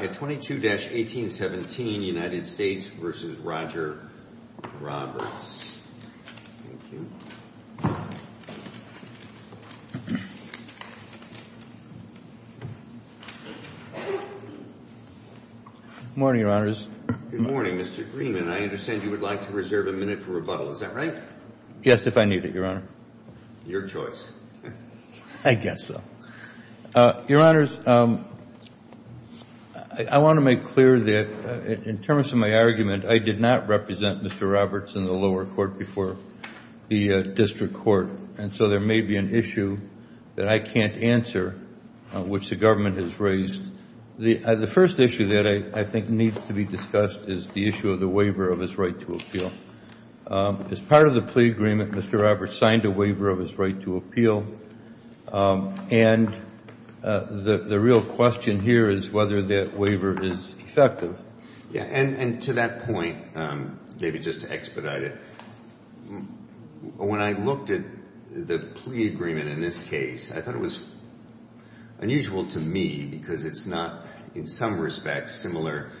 Good morning, Mr. Greenman. I understand you would like to reserve a minute for rebuttal. Is that right? Yes, if I need it, Your Honor. Your choice. I guess so. Your Honors, I'm sorry. I want to make clear that in terms of my argument, I did not represent Mr. Roberts in the lower court before the district court, and so there may be an issue that I can't answer which the government has raised. The first issue that I think needs to be discussed is the issue of the waiver of his right to appeal. As part of the plea agreement, Mr. Roberts signed a waiver of his right to appeal, and the real question here is whether that waiver is effective. Yes, and to that point, maybe just to expedite it, when I looked at the plea agreement in this case, I thought it was unusual to me because it's not in some respects similar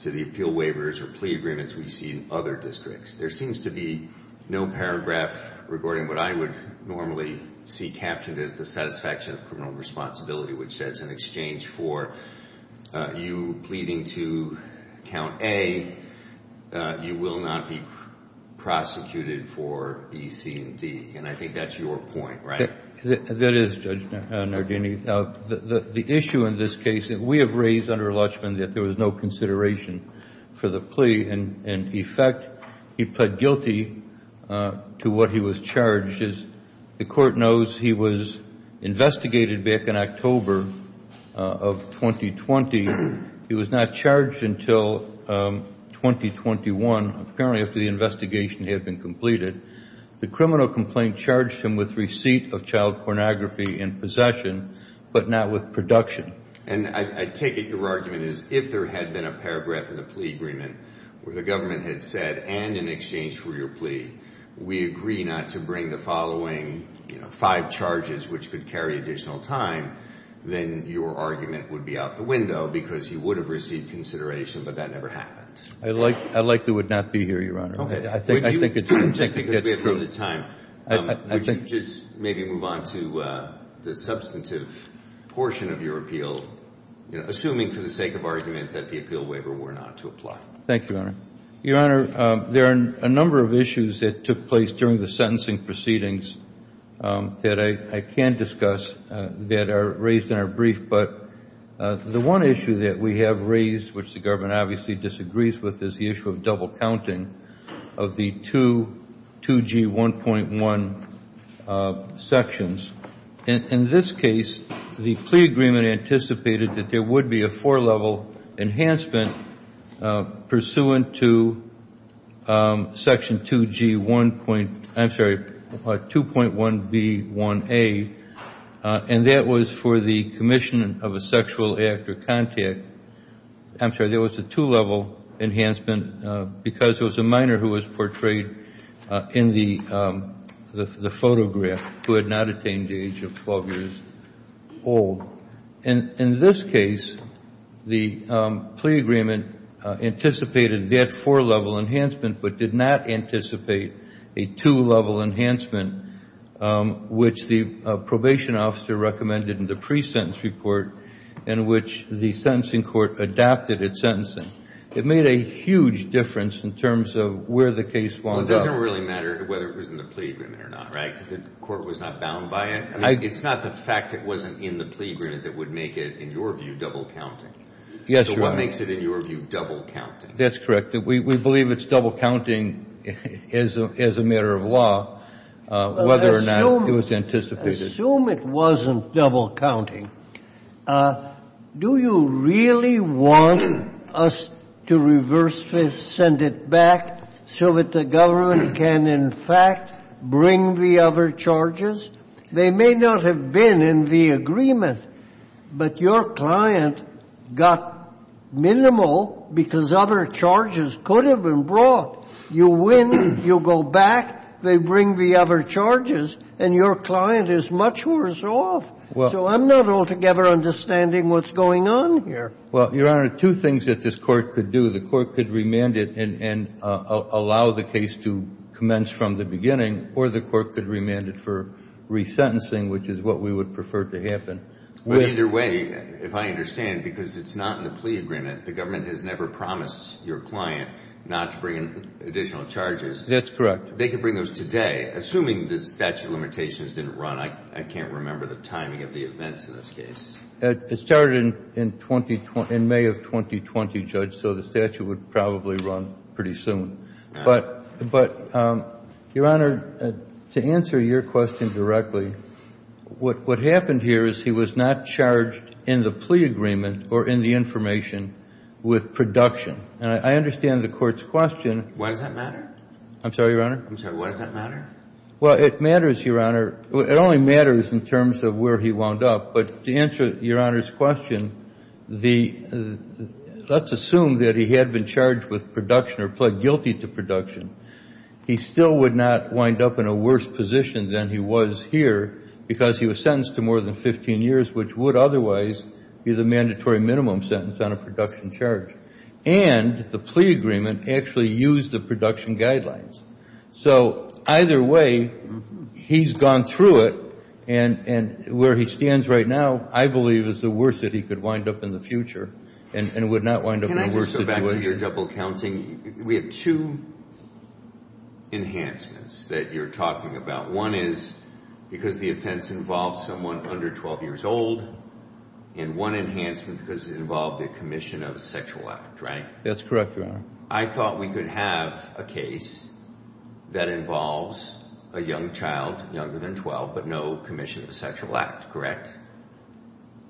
to the appeal waivers or plea agreements we see in other districts. There seems to be no paragraph regarding what I would normally see captioned as the satisfaction of criminal responsibility, which says in exchange for you pleading to count A, you will not be prosecuted for B, C, and D, and I think that's your point, right? That is, Judge Nardini. The issue in this case that we have raised under Lutchman that there was no consideration for the plea, in effect, he pled guilty to what he was charged. As the Court knows, he was investigated back in October of 2020. He was not charged until 2021, apparently after the investigation had been completed. The criminal complaint charged him with receipt of child pornography in possession, but not with production. And I take it your argument is if there had been a paragraph in the plea agreement where the government had said, and in exchange for your plea, we agree not to bring the following, you know, five charges which could carry additional time, then your argument would be out the window because he would have received consideration, but that never happened. I like, I like the would not be here, Your Honor. I think, I think it's, I think it gets through. Just because we have limited time, would you just maybe move on to the substantive portion of your appeal, assuming for the sake of argument that the appeal waiver were not to apply? Thank you, Your Honor. Your Honor, there are a number of issues that took place during the sentencing proceedings that I can discuss that are raised in our brief. But the one issue that we have raised, which the government obviously disagrees with, is the issue of double counting of the two 2G1.1 sections. And in this case, the plea agreement anticipated that there would be a four level enhancement pursuant to section 2G1 point, I'm sorry, 2.1B1A, and that was for the commission of a sexual act or contact. I'm sorry, there was a two level enhancement because it was a minor who was portrayed in the photograph who had not attained the age of 12 years old. And in this case, the plea agreement anticipated that four level enhancement, but did not anticipate a two level enhancement, which the probation officer recommended in the pre-sentence report in which the sentencing court adapted its sentencing. It made a huge difference in terms of where the case wound up. Well, it doesn't really matter whether it was in the plea agreement or not, right? Because the court was not bound by it. It's not the fact it wasn't in the plea agreement that would make it, in your view, double counting. Yes, Your Honor. So what makes it, in your view, double counting? That's correct. We believe it's double counting as a matter of law, whether or not it was anticipated. I assume it wasn't double counting. Do you really want us to reverse this, send it back, so that the government can, in fact, bring the other charges? They may not have been in the agreement, but your client got minimal because other charges could have been brought. You win, you go back, they bring the other charges, and your client is much worse off. So I'm not altogether understanding what's going on here. Well, Your Honor, two things that this court could do. The court could remand it and allow the case to commence from the beginning, or the court could remand it for resentencing, which is what we would prefer to happen. But either way, if I understand, because it's not in the plea agreement, the government has never promised your client not to bring additional charges. That's correct. They could bring those today. Assuming the statute of limitations didn't run, I can't remember the timing of the events in this case. It started in May of 2020, Judge, so the statute would probably run pretty soon. But, Your Honor, to answer your question directly, what happened here is he was not charged in the plea agreement or in the information with production. And I understand the court's question. Why does that matter? I'm sorry, Your Honor? I'm sorry. Why does that matter? Well, it matters, Your Honor. It only matters in terms of where he wound up. But to answer Your Honor's question, let's assume that he had been charged with production or pled guilty to production. He still would not wind up in a worse position than he was here because he was sentenced to more than 15 years, which would otherwise be the mandatory minimum sentence on a production charge. And the plea agreement actually used the production guidelines. So either way, he's gone through it. And where he stands right now, I believe, is the worst that he could wind up in the future and would not wind up in a worse situation. Can I just go back to your double counting? We have two enhancements that you're talking about. One is because the offense involves someone under 12 years old and one enhancement because it involved the commission of a sexual act, right? That's correct, Your Honor. I thought we could have a case that involves a young child younger than 12, but no commission of a sexual act, correct?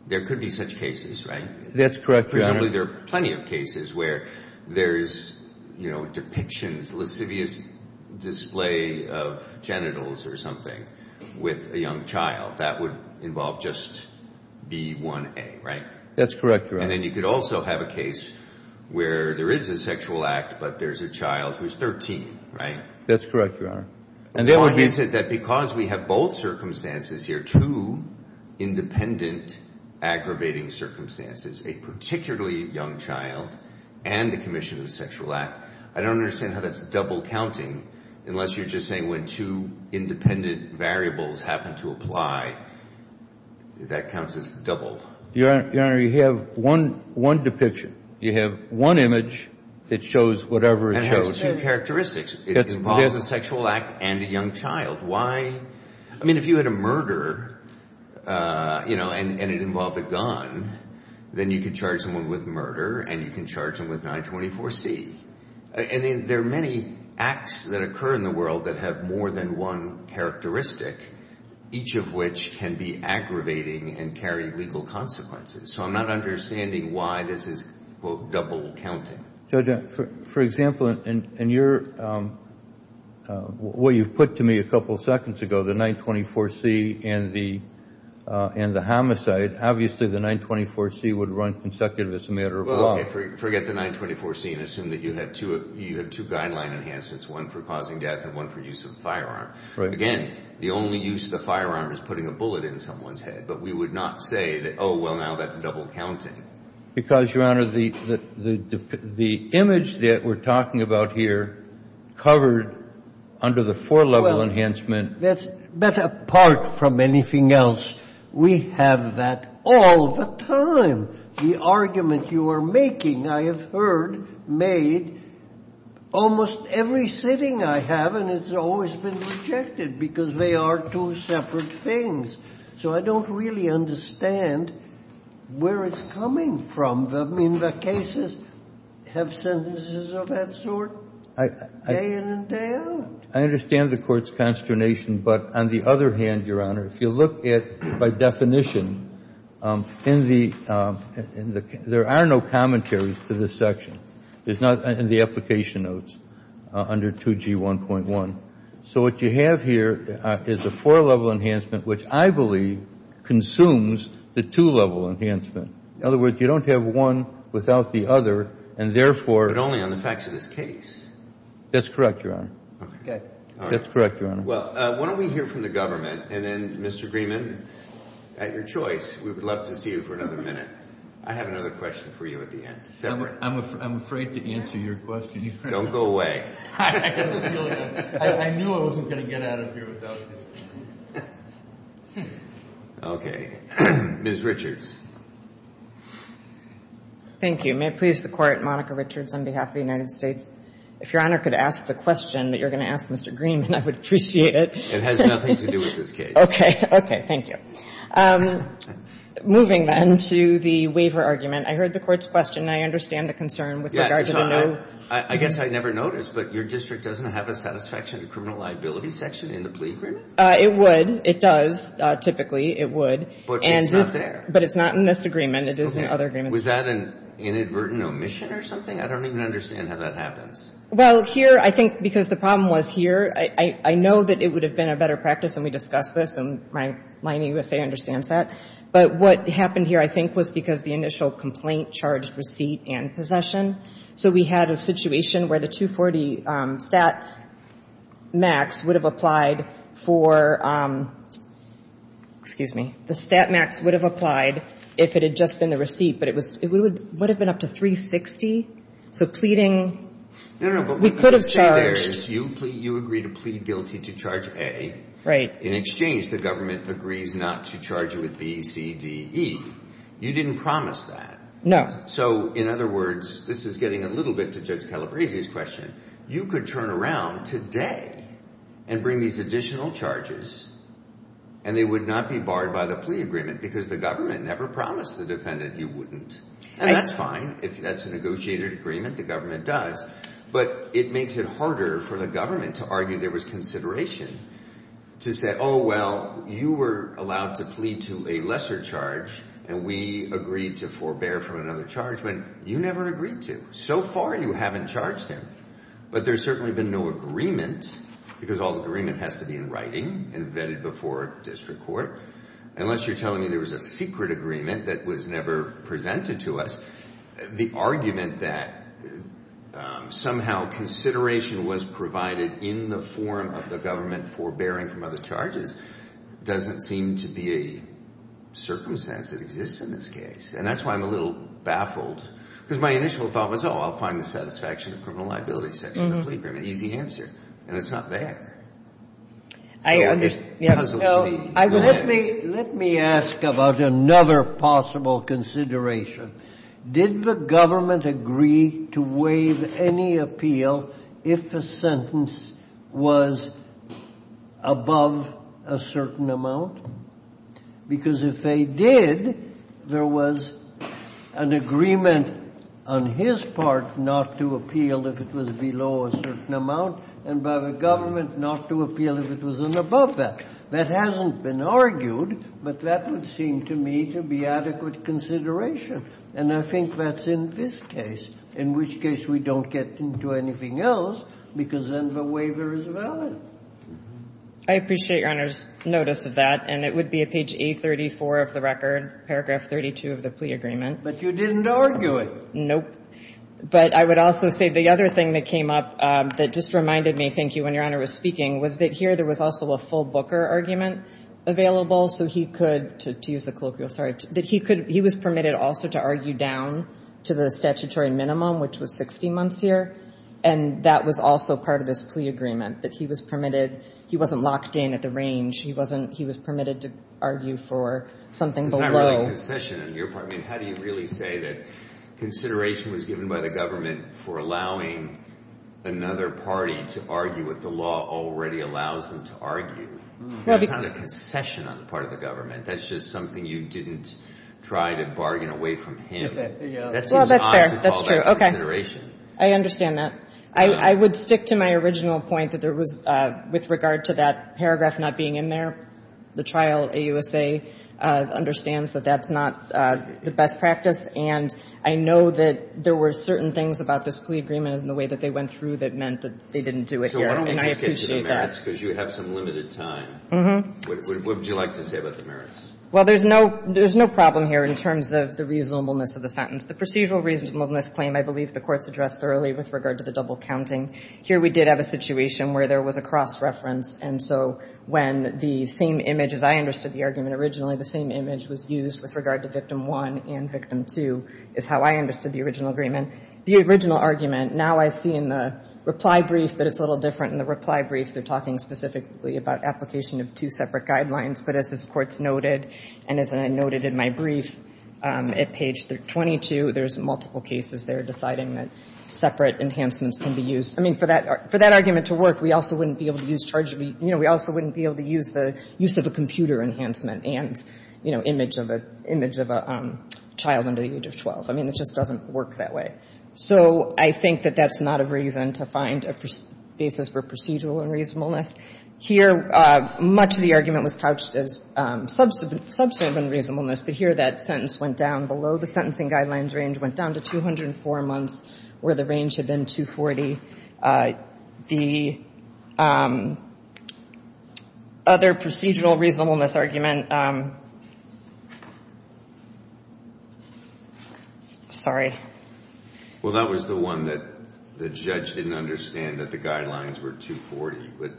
There could be such cases, right? That's correct, Your Honor. Presumably, there are plenty of cases where there's, you know, depictions, lascivious display of genitals or something with a young child. That would involve just B1A, right? That's correct, Your Honor. And then you could also have a case where there is a sexual act, but there's a child who's 13, right? That's correct, Your Honor. And the other piece is that because we have both circumstances here, two independent aggravating circumstances, a particularly young child and the commission of a sexual act, I don't understand how that's double counting unless you're just saying when two independent variables happen to apply, that counts as double. Your Honor, you have one depiction. You have one image that shows whatever it shows. It has two characteristics. It involves a sexual act and a young child. Why? I mean, if you had a murder, you know, and it involved a gun, then you could charge someone with murder and you can charge them with 924C. And there are many acts that occur in the world that have more than one characteristic, each of which can be aggravating and carry legal consequences. So I'm not understanding why this is, quote, double counting. Judge, for example, in your, what you put to me a couple of seconds ago, the 924C and the homicide, obviously the 924C would run consecutive as a matter of law. Forget the 924C and assume that you had two guideline enhancements, one for causing death and one for use of a firearm. Again, the only use of the firearm is putting a bullet in someone's head. But we would not say that, oh, well, now that's double counting. Because, Your Honor, the image that we're talking about here covered under the four-level enhancement. That's, but apart from anything else, we have that all the time. The argument you are making, I have heard made almost every sitting I have, and it's always been rejected because they are two separate things. So I don't really understand where it's coming from. I mean, the cases have sentences of that sort day in and day out. I understand the Court's consternation. But on the other hand, Your Honor, if you look at, by definition, in the, there are no commentaries to this section. It's not in the application notes under 2G1.1. So what you have here is a four-level enhancement, which I believe consumes the two-level enhancement. In other words, you don't have one without the other, and therefore. But only on the facts of this case. That's correct, Your Honor. Okay. That's correct, Your Honor. Well, why don't we hear from the government, and then, Mr. Greenman, at your choice. We would love to see you for another minute. I have another question for you at the end. I'm afraid to answer your question. Don't go away. I knew I wasn't going to get out of here without it. Okay. Ms. Richards. Thank you. May it please the Court, Monica Richards on behalf of the United States. If Your Honor could ask the question that you're going to ask Mr. Greenman, I would appreciate it. It has nothing to do with this case. Okay. Okay. Thank you. Moving then to the waiver argument, I heard the Court's question, and I understand the concern with regard to the no. I guess I never noticed, but your district doesn't have a satisfaction to criminal liability section in the plea agreement? It would. It does. Typically, it would. But it's not there. But it's not in this agreement. It is in other agreements. Was that an inadvertent omission or something? I don't even understand how that happens. Well, here, I think because the problem was here, I know that it would have been a better practice, and we discussed this, and my USA understands that. But what happened here, I think, was because the initial complaint charged receipt and possession. So we had a situation where the 240 stat max would have applied for, excuse me, the stat max would have applied if it had just been the receipt. But it would have been up to 360. So pleading, we could have charged. No, no, but what I'm trying to say there is you agree to plead guilty to charge A. Right. In exchange, the government agrees not to charge you with B, C, D, E. You didn't promise that. No. So in other words, this is getting a little bit to Judge Calabresi's question, you could turn around today and bring these additional charges, and they would not be barred by the plea agreement because the government never promised the defendant you wouldn't. And that's fine. If that's a negotiated agreement, the government does. But it makes it harder for the government to argue there was consideration to say, oh, well, you were allowed to plead to a lesser charge, and we agreed to forbear from another charge when you never agreed to. So far, you haven't charged him. But there's certainly been no agreement because all the agreement has to be in writing and vetted before district court. Unless you're telling me there was a secret agreement that was never presented to us, the argument that somehow consideration was provided in the form of the government forbearing from other charges doesn't seem to be a circumstance that exists in this case. And that's why I'm a little baffled, because my initial thought was, oh, I'll find the satisfaction of criminal liability section of the plea agreement. Easy answer. And it's not there. It's puzzled me. Let me ask about another possible consideration. Did the government agree to waive any appeal if a sentence was above a certain amount? Because if they did, there was an agreement on his part not to appeal if it was below a certain amount, and by the government not to appeal if it was above that. That hasn't been argued, but that would seem to me to be adequate consideration. And I think that's in this case, in which case we don't get into anything else, because then the waiver is valid. I appreciate Your Honor's notice of that, and it would be at page A34 of the record, paragraph 32 of the plea agreement. But you didn't argue it. Nope. But I would also say the other thing that came up that just reminded me, thank you, Your Honor, is that there was a waiver argument available so he could, to use the colloquial, sorry, that he could, he was permitted also to argue down to the statutory minimum, which was 60 months here, and that was also part of this plea agreement, that he was permitted, he wasn't locked in at the range. He wasn't, he was permitted to argue for something below. It's not really a concession on your part. I mean, how do you really say that consideration was given by the government for allowing another party to argue what the law already allows them to argue? That's not a concession on the part of the government. That's just something you didn't try to bargain away from him. Well, that's fair. That's true. Okay. I understand that. I would stick to my original point that there was, with regard to that paragraph not being in there, the trial, AUSA, understands that that's not the best practice, and I know that there were certain things about this plea agreement and the way that they went through that meant that they didn't do it here, and I appreciate that. So why don't we just get to the merits, because you have some limited time. What would you like to say about the merits? Well, there's no problem here in terms of the reasonableness of the sentence. The procedural reasonableness claim, I believe, the Court's addressed thoroughly with regard to the double counting. Here we did have a situation where there was a cross-reference, and so when the same image, as I understood the argument originally, the same image was used with regard to Victim 1 and Victim 2, is how I understood the original agreement. The original argument, now I see in the reply brief that it's a little different. In the reply brief, they're talking specifically about application of two separate guidelines, but as this Court's noted, and as I noted in my brief, at page 22, there's multiple cases there deciding that separate enhancements can be used. I mean, for that argument to work, we also wouldn't be able to use the use of a computer enhancement and, you know, image of a child under the age of 12. I mean, it just doesn't work that way. So I think that that's not a reason to find a basis for procedural unreasonableness. Here, much of the argument was couched as substantive unreasonableness, but here that sentence went down below the sentencing guidelines range, went down to 204 months, where the range had been 240. The other procedural reasonableness argument, sorry. Well, that was the one that the judge didn't understand that the guidelines were 240.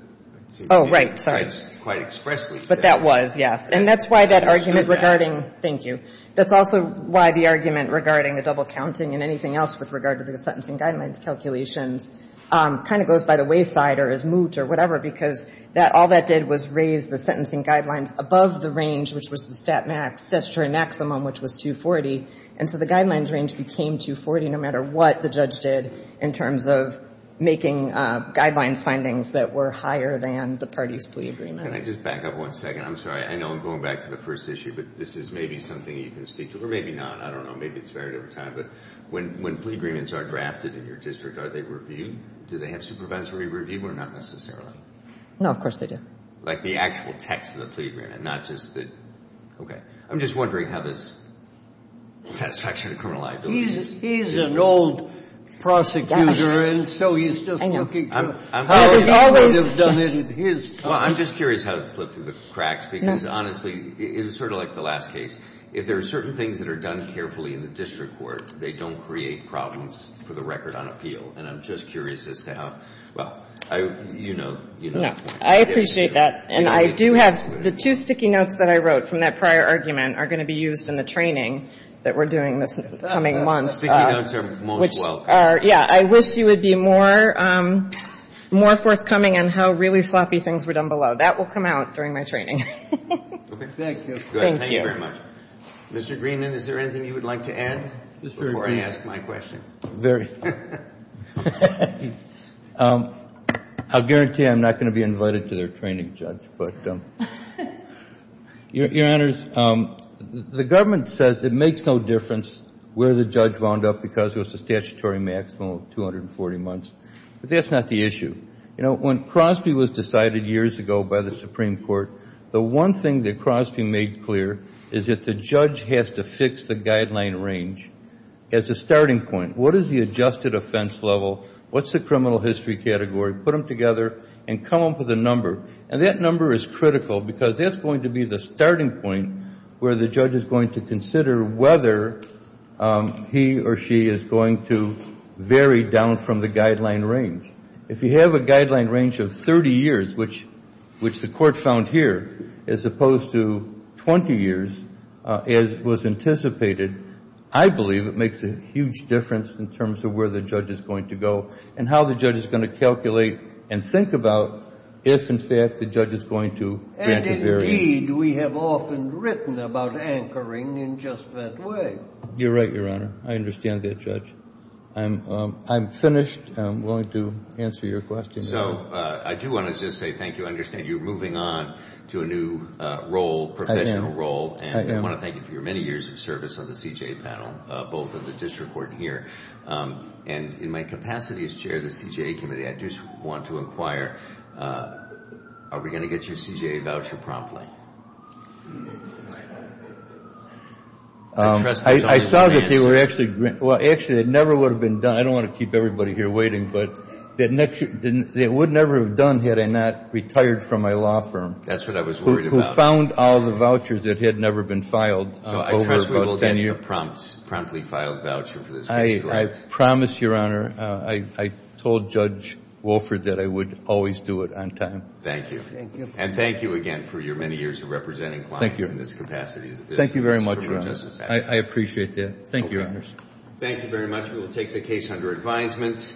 Oh, right, sorry. But that was, yes. And that's why that argument regarding, thank you. That's also why the argument regarding the double counting and anything else with regard to the sentencing guidelines calculations kind of goes by the wayside or is moot or whatever because all that did was raise the sentencing guidelines above the range, which was the statutory maximum, which was 240. And so the guidelines range became 240 no matter what the judge did in terms of making guidelines findings that were higher than the party's plea agreement. Can I just back up one second? I'm sorry. I know I'm going back to the first issue, but this is maybe something you can speak to, or maybe not, I don't know, maybe it's varied over time. But when plea agreements are drafted in your district, are they reviewed? Do they have supervisory review or not necessarily? No, of course they do. Like the actual text of the plea agreement, not just the, okay. I'm just wondering how this satisfaction of criminal liability is. He's an old prosecutor, and so he's just looking for how he would have done it in his time. Well, I'm just curious how it slipped through the cracks because honestly, it was sort of like the last case. If there are certain things that are done carefully in the district court, they don't create problems for the record on appeal. And I'm just curious as to how, well, you know, you know. No, I appreciate that. And I do have, the two sticky notes that I wrote from that prior argument are going to be used in the training that we're doing this coming month, which are, yeah. I wish you would be more forthcoming on how really sloppy things were done below. That will come out during my training. Thank you very much. Mr. Greenman, is there anything you would like to add before I ask my question? Very. I'll guarantee I'm not going to be invited to their training, Judge. But your honors, the government says it makes no difference where the judge wound up because it was a statutory maximum of 240 months. But that's not the issue. You know, when Crosby was decided years ago by the Supreme Court, the one thing that Crosby made clear is that the judge has to fix the guideline range as a starting point. What is the adjusted offense level? What's the criminal history category? Put them together and come up with a number. And that number is critical because that's going to be the starting point where the judge is going to consider whether he or she is going to vary down from the guideline range. If you have a guideline range of 30 years, which the court found here, as opposed to 20 years, as was anticipated, I believe it makes a huge difference in terms of where the judge is going to go and how the judge is going to calculate and think about if, in fact, the judge is going to grant a variance. And indeed, we have often written about anchoring in just that way. You're right, Your Honor. I understand that, Judge. I'm finished. I'm willing to answer your question. So, I do want to just say thank you. I understand you're moving on to a new role, professional role. And I want to thank you for your many years of service on the CJA panel, both of the district court and here. And in my capacity as chair of the CJA committee, I just want to inquire, are we going to get your CJA voucher promptly? I saw that they were actually, well, actually, it never would have been done. I don't want to keep everybody here waiting, but it would never have done had I not retired from my law firm. That's what I was worried about. Who found all the vouchers that had never been filed over about 10 years. So, I trust we will get you a promptly filed voucher for this case, correct? I promise, Your Honor, I told Judge Wolford that I would always do it on time. Thank you. Thank you. And thank you again for your many years of representing clients in this capacity. Thank you. Thank you very much, Your Honor. I appreciate that. Thank you, Your Honors. Thank you very much. We will take the case under advisement.